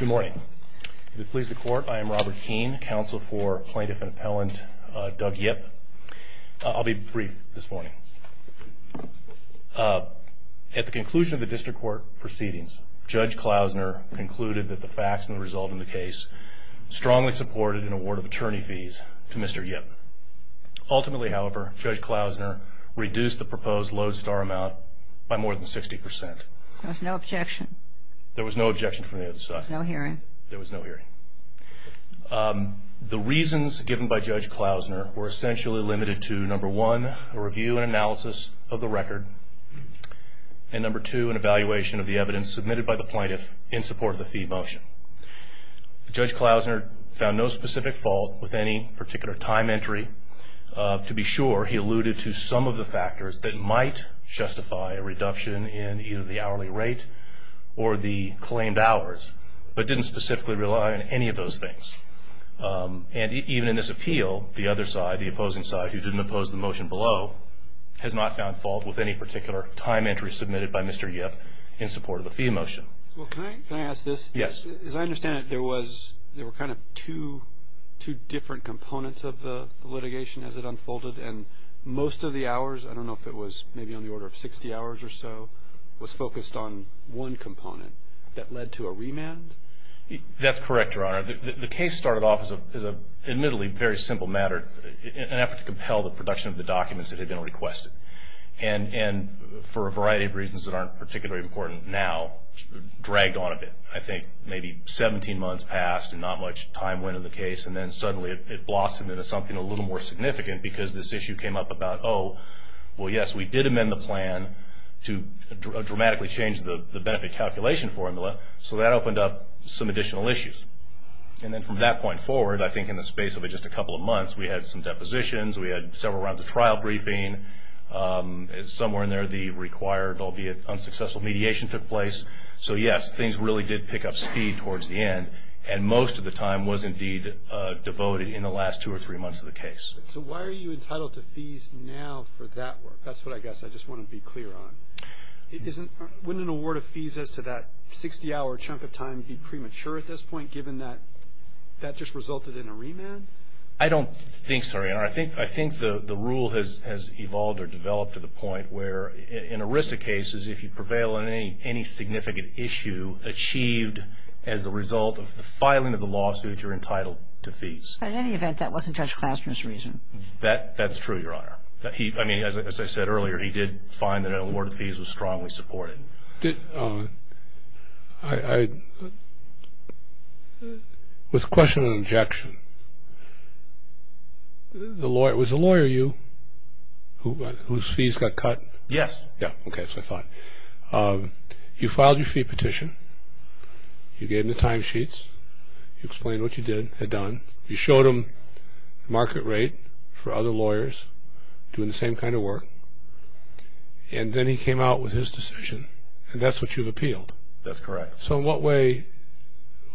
Good morning. To please the court, I am Robert Keene, counsel for plaintiff and appellant Doug Yip. I'll be brief this morning. At the conclusion of the district court proceedings, Judge Klausner concluded that the facts and the result of the case strongly supported an award of attorney fees to Mr. Yip. Ultimately, however, Judge Klausner reduced the proposed lodestar amount by more than 60%. There was no objection. There was no objection from the other side. No hearing. There was no hearing. The reasons given by Judge Klausner were essentially limited to, number one, a review and analysis of the record, and number two, an evaluation of the evidence submitted by the plaintiff in support of the fee motion. Judge Klausner found no specific fault with any particular time entry. To be sure, he alluded to some of the factors that might justify a reduction in either the hourly rate or the claimed hours, but didn't specifically rely on any of those things. And even in this appeal, the other side, the opposing side, who didn't oppose the motion below, has not found fault with any particular time entry submitted by Mr. Yip in support of the fee motion. Well, can I ask this? Yes. As I understand it, there were kind of two different components of the litigation as it unfolded, and most of the hours, I don't know if it was maybe on the order of 60 hours or so, was focused on one component. That led to a remand? That's correct, Your Honor. The case started off as, admittedly, a very simple matter, an effort to compel the production of the documents that had been requested, and for a variety of reasons that aren't particularly important now, dragged on a bit. I think maybe 17 months passed and not much time went into the case, and then suddenly it blossomed into something a little more significant because this issue came up about, oh, well, yes, we did amend the plan to dramatically change the benefit calculation formula, so that opened up some additional issues. And then from that point forward, I think in the space of just a couple of months, we had some depositions, we had several rounds of trial briefing. Somewhere in there, the required, albeit unsuccessful, mediation took place. So, yes, things really did pick up speed towards the end, and most of the time was indeed devoted in the last two or three months of the case. So why are you entitled to fees now for that work? That's what I guess I just want to be clear on. Wouldn't an award of fees as to that 60-hour chunk of time be premature at this point, given that that just resulted in a remand? I don't think so, Your Honor. I think the rule has evolved or developed to the point where in ERISA cases, if you prevail on any significant issue achieved as a result of the filing of the lawsuit, you're entitled to fees. But in any event, that wasn't Judge Claster's reason. That's true, Your Honor. I mean, as I said earlier, he did find that an award of fees was strongly supported. So with question and objection, was the lawyer you whose fees got cut? Yes. Yeah, okay, that's what I thought. You filed your fee petition. You gave him the timesheets. You explained what you had done. You showed him the market rate for other lawyers doing the same kind of work, and then he came out with his decision, and that's what you've appealed. That's correct. So in what way,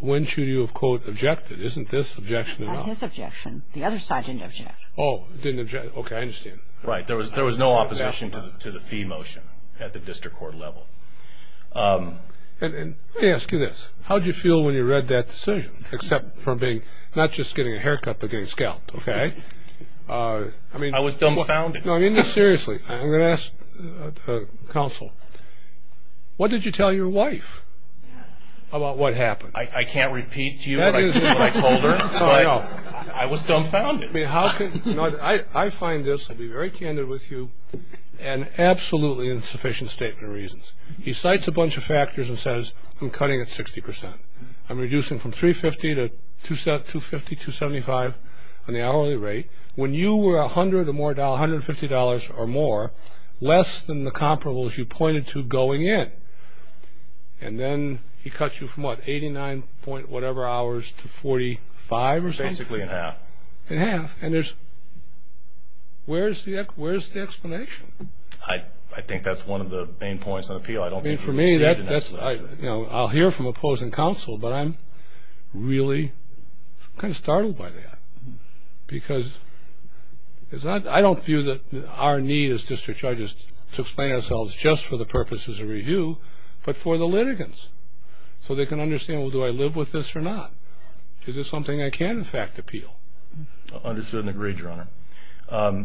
when should you have, quote, objected? Isn't this objection or not? Not his objection. The other side didn't object. Oh, didn't object. Okay, I understand. Right. There was no opposition to the fee motion at the district court level. Let me ask you this. How did you feel when you read that decision, except for being not just getting a haircut but getting scalped, okay? I was dumbfounded. No, I mean this seriously. I'm going to ask counsel. What did you tell your wife about what happened? I can't repeat to you what I told her, but I was dumbfounded. I find this, I'll be very candid with you, an absolutely insufficient statement of reasons. He cites a bunch of factors and says, I'm cutting at 60%. I'm reducing from 350 to 250, 275 on the hourly rate. When you were $100 or more, $150 or more, less than the comparables you pointed to going in. And then he cuts you from, what, 89-point-whatever-hours to 45 or something? Basically in half. In half. And where's the explanation? I think that's one of the main points of appeal. I don't think you received an explanation. I'll hear from opposing counsel, but I'm really kind of startled by that because I don't view that our need as district judges to explain ourselves just for the purposes of review, but for the litigants so they can understand, well, do I live with this or not? Is this something I can, in fact, appeal? Understood and agreed, Your Honor.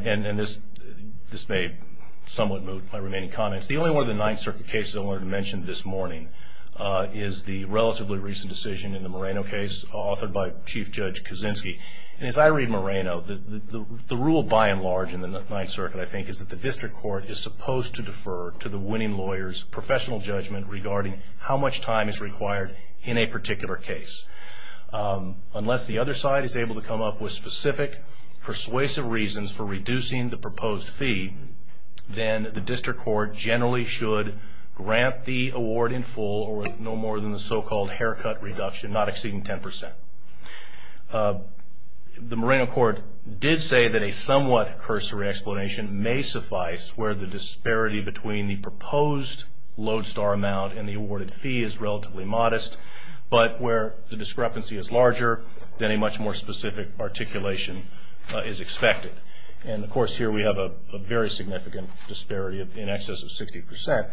And this may somewhat move my remaining comments. The only one of the Ninth Circuit cases I wanted to mention this morning is the relatively recent decision in the Moreno case, authored by Chief Judge Kaczynski. And as I read Moreno, the rule by and large in the Ninth Circuit, I think, is that the district court is supposed to defer to the winning lawyer's professional judgment regarding how much time is required in a particular case. Unless the other side is able to come up with specific persuasive reasons for reducing the proposed fee, then the district court generally should grant the award in full or with no more than the so-called haircut reduction, not exceeding 10%. The Moreno court did say that a somewhat cursory explanation may suffice where the disparity between the proposed lodestar amount and the awarded fee is relatively modest, but where the discrepancy is larger than a much more specific articulation is expected. And, of course, here we have a very significant disparity in excess of 60%.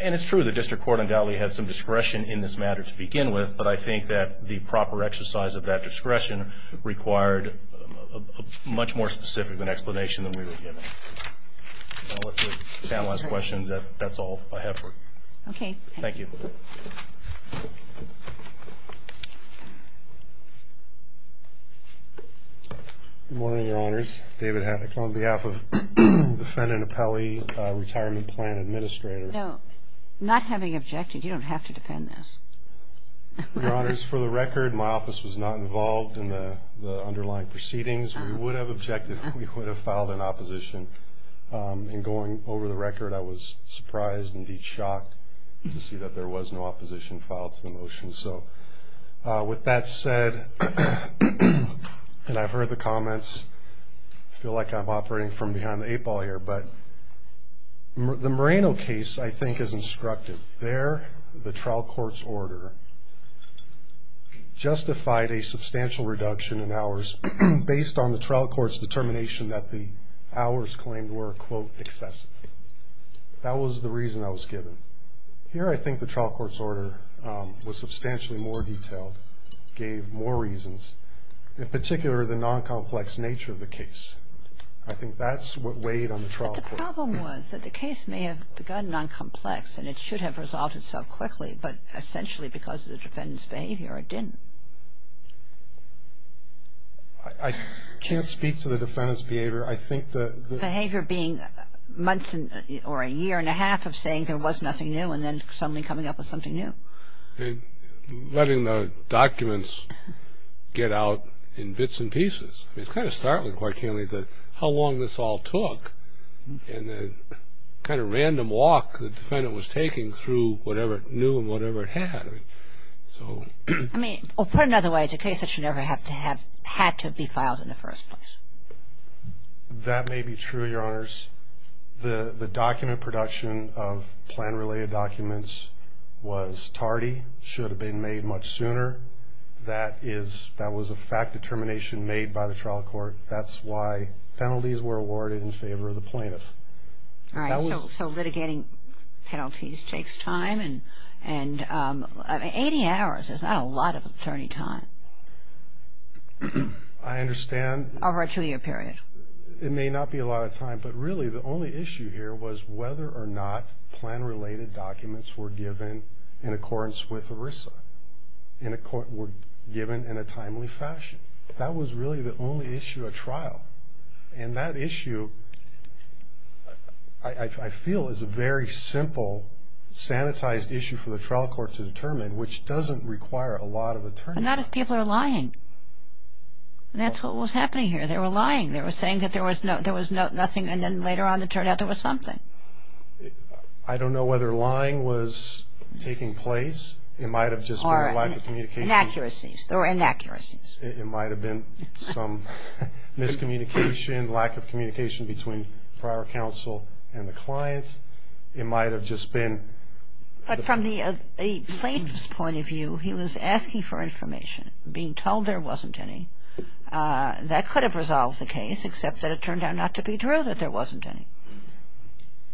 And it's true the district court undoubtedly has some discretion in this matter to begin with, but I think that the proper exercise of that discretion required a much more specific explanation than we were given. And with the panelists' questions, that's all I have for you. Okay. Thank you. Good morning, Your Honors. David Havock on behalf of defendant Appelli, retirement plan administrator. No. Not having objected, you don't have to defend this. Your Honors, for the record, my office was not involved in the underlying proceedings. We would have objected. We would have filed an opposition. And going over the record, I was surprised, indeed shocked, to see that there was no opposition filed to the motion. So with that said, and I've heard the comments, I feel like I'm operating from behind the eight ball here, but the Moreno case, I think, is instructive. There, the trial court's order justified a substantial reduction in hours based on the trial court's determination that the hours claimed were, quote, excessive. That was the reason I was given. Here, I think the trial court's order was substantially more detailed, gave more reasons, in particular, the non-complex nature of the case. I think that's what weighed on the trial court. But the problem was that the case may have begun non-complex, and it should have resolved itself quickly, but essentially because of the defendant's behavior, it didn't. I can't speak to the defendant's behavior. I think the ---- Behavior being months or a year and a half of saying there was nothing new and then suddenly coming up with something new. Letting the documents get out in bits and pieces. It's kind of startling, quite clearly, how long this all took, and the kind of random walk the defendant was taking through whatever it knew and whatever it had. I mean, put another way, it's a case that should never have had to be filed in the first place. That may be true, Your Honors. The document production of plan-related documents was tardy, should have been made much sooner. That was a fact determination made by the trial court. That's why penalties were awarded in favor of the plaintiff. All right, so litigating penalties takes time, and 80 hours is not a lot of attorney time. I understand. Over a two-year period. It may not be a lot of time, but really the only issue here was whether or not plan-related documents were given in accordance with ERISA, were given in a timely fashion. That was really the only issue at trial. And that issue, I feel, is a very simple, sanitized issue for the trial court to determine, which doesn't require a lot of attorney time. But not if people are lying. That's what was happening here. They were lying. They were saying that there was nothing, and then later on it turned out there was something. I don't know whether lying was taking place. It might have just been a lack of communication. Or inaccuracies. There were inaccuracies. It might have been some miscommunication, lack of communication between prior counsel and the clients. It might have just been. But from the plaintiff's point of view, he was asking for information, being told there wasn't any. That could have resolved the case, except that it turned out not to be true that there wasn't any.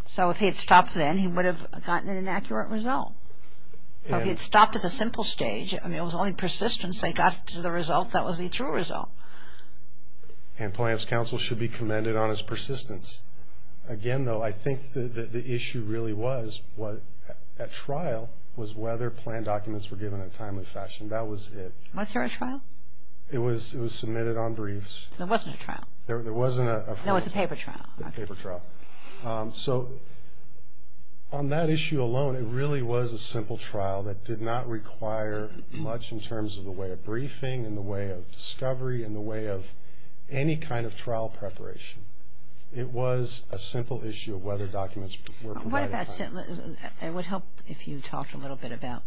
So if he had stopped then, he would have gotten an inaccurate result. If he had stopped at the simple stage, I mean, it was only persistence that got to the result that was the true result. And plaintiff's counsel should be commended on his persistence. Again, though, I think the issue really was at trial was whether planned documents were given in a timely fashion. That was it. Was there a trial? It was submitted on briefs. So there wasn't a trial. There wasn't a trial. No, it was a paper trial. A paper trial. So on that issue alone, it really was a simple trial that did not require much in terms of the way of briefing and the way of discovery and the way of any kind of trial preparation. It was a simple issue of whether documents were provided. It would help if you talked a little bit about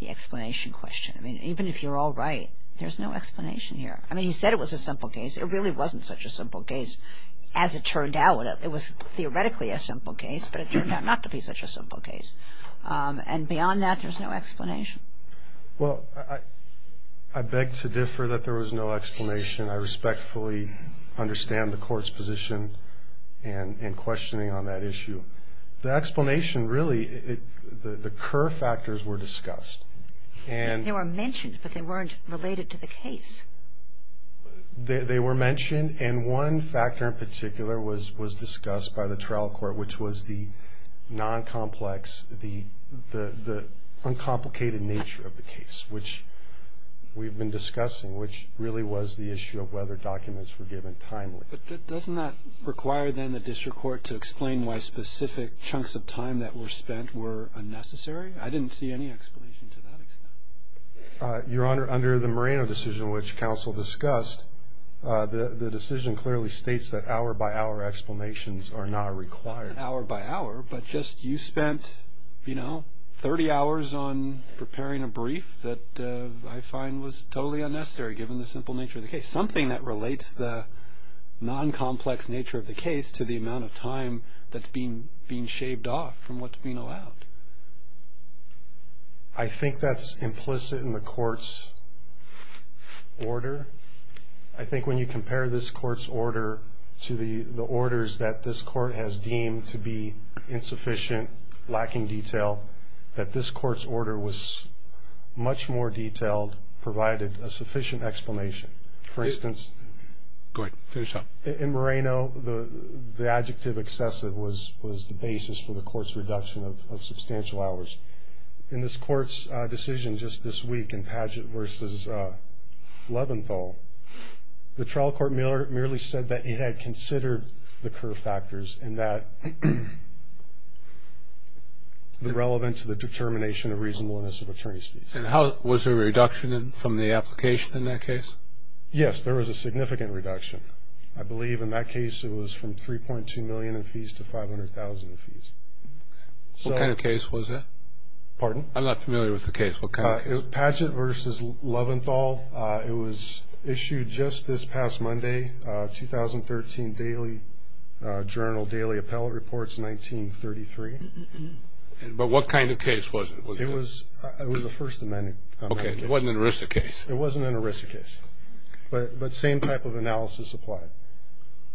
the explanation question. I mean, even if you're all right, there's no explanation here. I mean, he said it was a simple case. It really wasn't such a simple case. As it turned out, it was theoretically a simple case, but it turned out not to be such a simple case. And beyond that, there's no explanation. Well, I beg to differ that there was no explanation. I respectfully understand the Court's position and questioning on that issue. The explanation really, the curve factors were discussed. They were mentioned, but they weren't related to the case. They were mentioned, and one factor in particular was discussed by the trial court, which was the non-complex, the uncomplicated nature of the case, which we've been discussing, which really was the issue of whether documents were given timely. But doesn't that require then the district court to explain why specific chunks of time that were spent were unnecessary? I didn't see any explanation to that extent. Your Honor, under the Moreno decision, which counsel discussed, the decision clearly states that hour-by-hour explanations are not required. Hour-by-hour, but just you spent, you know, 30 hours on preparing a brief that I find was totally unnecessary, given the simple nature of the case, something that relates the non-complex nature of the case to the amount of time that's being shaved off from what's being allowed. I think that's implicit in the court's order. I think when you compare this court's order to the orders that this court has deemed to be insufficient, lacking detail, that this court's order was much more detailed, provided a sufficient explanation. For instance, in Moreno, the adjective excessive was the basis for the court's reduction of suspicion. In this court's decision just this week in Padgett v. Leventhal, the trial court merely said that it had considered the curve factors and that the relevance of the determination of reasonableness of attorney's fees. And was there a reduction from the application in that case? Yes, there was a significant reduction. I believe in that case it was from $3.2 million in fees to $500,000 in fees. What kind of case was that? Pardon? I'm not familiar with the case. What kind of case? Padgett v. Leventhal. It was issued just this past Monday, 2013 Daily Journal, Daily Appellate Reports, 1933. But what kind of case was it? It was a First Amendment case. Okay, it wasn't an ERISA case. It wasn't an ERISA case, but the same type of analysis applied.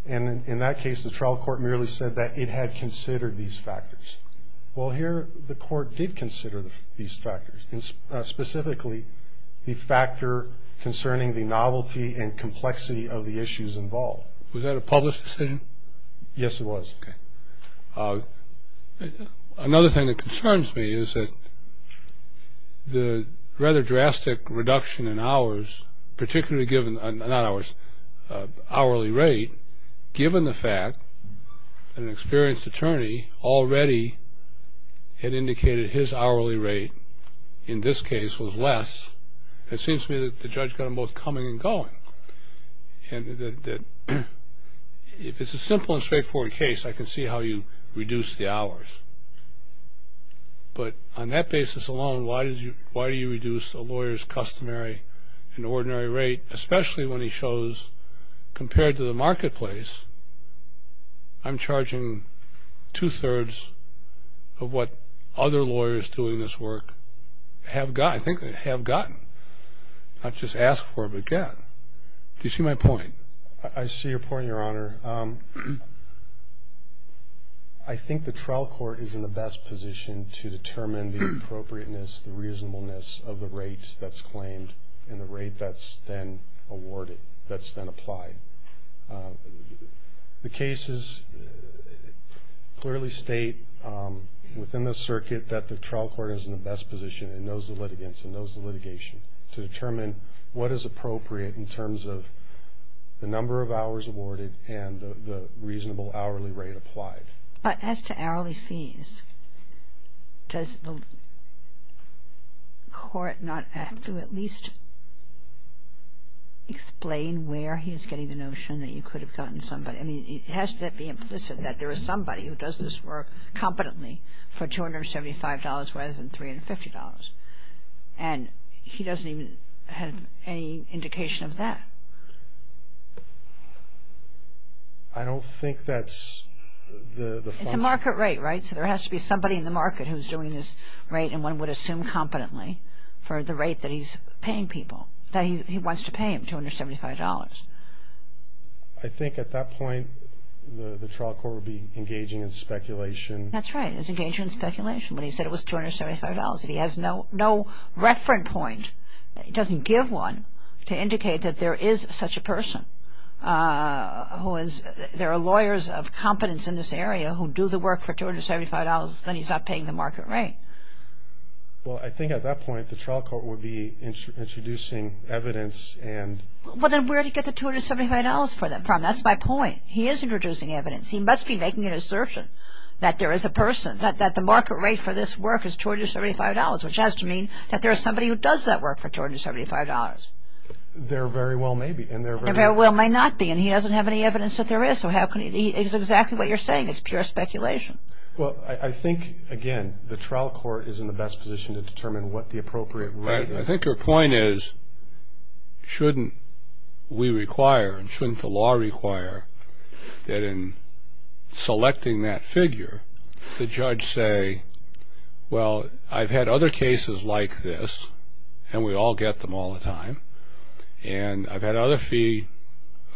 And in that case the trial court merely said that it had considered these factors. Well, here the court did consider these factors, specifically the factor concerning the novelty and complexity of the issues involved. Was that a published decision? Yes, it was. Okay. Not hours, hourly rate. Given the fact that an experienced attorney already had indicated his hourly rate in this case was less, it seems to me that the judge got them both coming and going. And if it's a simple and straightforward case, I can see how you reduce the hours. But on that basis alone, why do you reduce a lawyer's customary and ordinary rate, especially when he shows, compared to the marketplace, I'm charging two-thirds of what other lawyers doing this work have gotten. I think they have gotten, not just asked for, but gotten. Do you see my point? I see your point, Your Honor. Your Honor, I think the trial court is in the best position to determine the appropriateness, the reasonableness of the rate that's claimed and the rate that's then awarded, that's then applied. The cases clearly state within the circuit that the trial court is in the best position and knows the litigants and knows the litigation to determine what is appropriate in terms of the number of hours awarded and the reasonable hourly rate applied. But as to hourly fees, does the court not have to at least explain where he is getting the notion that you could have gotten somebody? I mean, it has to be implicit that there is somebody who does this work competently for $275 rather than $350. And he doesn't even have any indication of that. I don't think that's the function. It's a market rate, right? So there has to be somebody in the market who's doing this rate and one would assume competently for the rate that he's paying people, that he wants to pay him, $275. I think at that point the trial court would be engaging in speculation. That's right. It's engaging in speculation when he said it was $275. If he has no reference point, he doesn't give one to indicate that there is such a person. There are lawyers of competence in this area who do the work for $275, then he's not paying the market rate. Well, I think at that point the trial court would be introducing evidence and Well, then where did he get the $275 from? That's my point. He is introducing evidence. He must be making an assertion that there is a person, that the market rate for this work is $275, which has to mean that there is somebody who does that work for $275. There very well may be. There very well may not be, and he doesn't have any evidence that there is. It's exactly what you're saying. It's pure speculation. Well, I think, again, the trial court is in the best position to determine what the appropriate rate is. I think your point is, shouldn't we require and shouldn't the law require that in selecting that figure, the judge say, well, I've had other cases like this, and we all get them all the time, and I've had other fee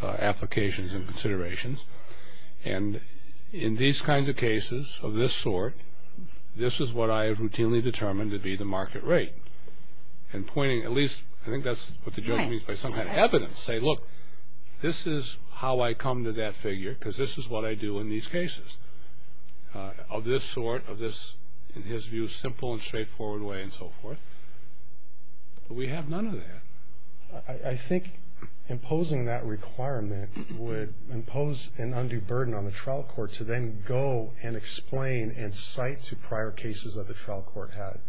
applications and considerations, and in these kinds of cases of this sort, this is what I have routinely determined to be the market rate. And pointing at least, I think that's what the judge means by some kind of evidence, say, look, this is how I come to that figure because this is what I do in these cases of this sort, of this, in his view, simple and straightforward way and so forth. We have none of that. I think imposing that requirement would impose an undue burden on the trial court to then go and explain and cite to prior cases that the trial court had,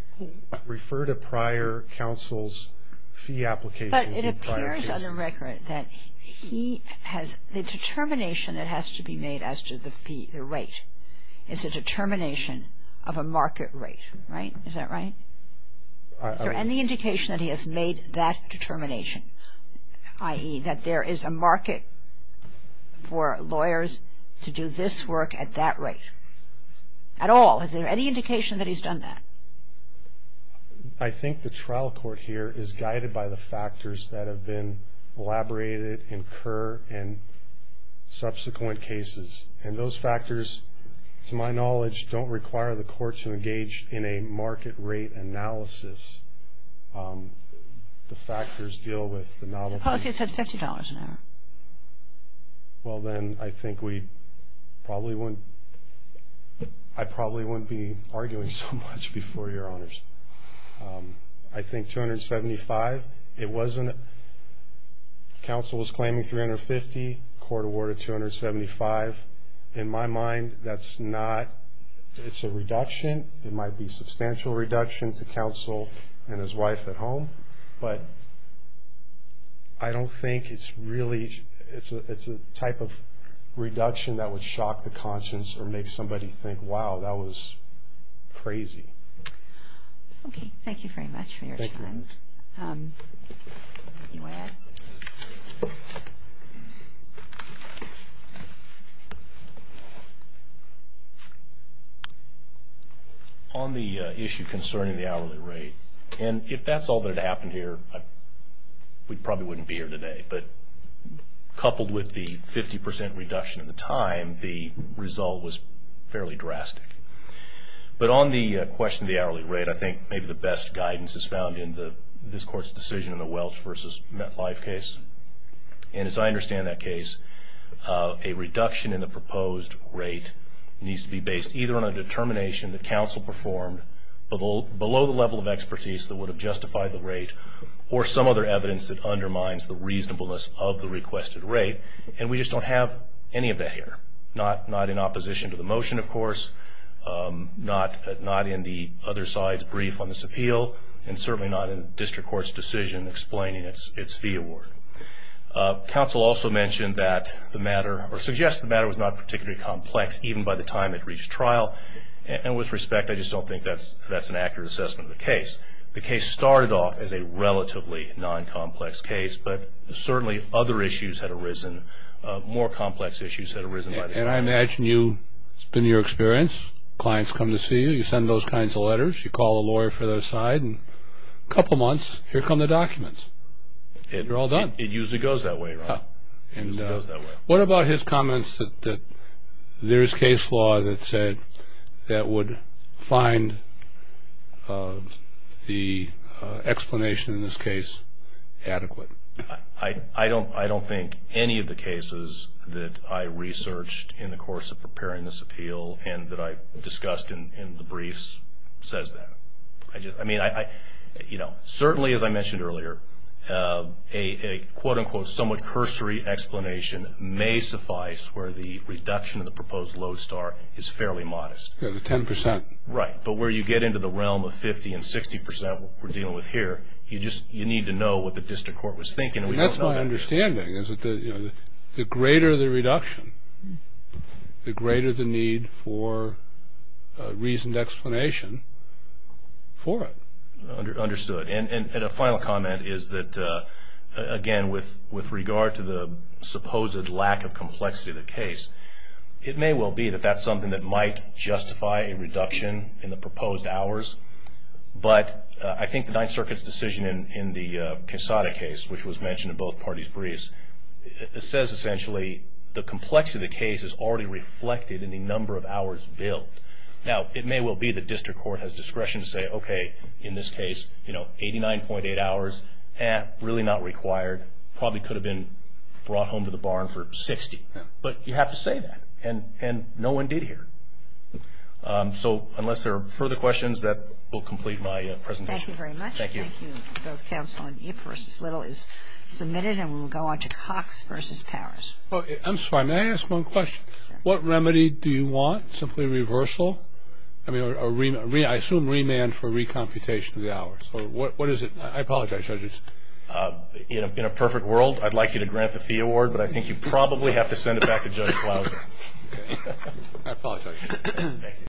refer to prior counsel's fee applications in prior cases. But it appears on the record that he has the determination that has to be made as to the fee, the rate is a determination of a market rate, right? Is that right? Is there any indication that he has made that determination, i.e., that there is a market for lawyers to do this work at that rate? At all, is there any indication that he's done that? I think the trial court here is guided by the factors that have been elaborated, incurred in subsequent cases, and those factors, to my knowledge, don't require the court to engage in a market rate analysis. The factors deal with the novelty. Suppose he had said $50 an hour. Well, then I think we probably wouldn't, I probably wouldn't be arguing so much before Your Honors. I think $275, it wasn't, counsel was claiming $350, court awarded $275. In my mind, that's not, it's a reduction. It might be a substantial reduction to counsel and his wife at home, but I don't think it's really, it's a type of reduction that would shock the conscience or make somebody think, wow, that was crazy. Okay, thank you very much for your time. Thank you. You may end. On the issue concerning the hourly rate, and if that's all that had happened here, we probably wouldn't be here today, but coupled with the 50% reduction in the time, the result was fairly drastic. But on the question of the hourly rate, I think maybe the best guidance is found in this Court's decision in the Welch v. MetLife case. And as I understand that case, a reduction in the proposed rate needs to be based either on a determination that counsel performed below the level of expertise that would have justified the rate or some other evidence that undermines the reasonableness of the requested rate. And we just don't have any of that here, not in opposition to the motion, of course, not in the other side's brief on this appeal, and certainly not in district court's decision explaining its fee award. Counsel also mentioned that the matter, or suggested the matter, was not particularly complex even by the time it reached trial. And with respect, I just don't think that's an accurate assessment of the case. The case started off as a relatively non-complex case, but certainly other issues had arisen, more complex issues had arisen. And I imagine you, it's been your experience, clients come to see you, you send those kinds of letters, you call a lawyer for their side, and a couple months, here come the documents. They're all done. It usually goes that way, Ron. What about his comments that there is case law that said that would find the explanation in this case adequate? I don't think any of the cases that I researched in the course of preparing this appeal and that I discussed in the briefs says that. I mean, you know, certainly as I mentioned earlier, a quote-unquote somewhat cursory explanation may suffice where the reduction of the proposed load star is fairly modest. Ten percent. Right, but where you get into the realm of 50 and 60 percent, what we're dealing with here, you need to know what the district court was thinking, and we don't know that. And that's my understanding, is that the greater the reduction, the greater the need for reasoned explanation for it. Understood. And a final comment is that, again, with regard to the supposed lack of complexity of the case, it may well be that that's something that might justify a reduction in the proposed hours, but I think the Ninth Circuit's decision in the Quesada case, which was mentioned in both parties' briefs, says essentially the complexity of the case is already reflected in the number of hours billed. Now, it may well be the district court has discretion to say, okay, in this case, you know, 89.8 hours, eh, really not required, probably could have been brought home to the barn for 60, but you have to say that, and no one did here. So unless there are further questions, that will complete my presentation. Thank you very much. Thank you. Thank you. Both counsel on Ip versus Little is submitted, and we will go on to Cox versus Powers. I'm sorry. May I ask one question? Sure. What remedy do you want? Simply reversal? I mean, I assume remand for recomputation of the hours. What is it? I apologize, judges. In a perfect world, I'd like you to grant the fee award, but I think you probably have to send it back to Judge Plowman. I apologize.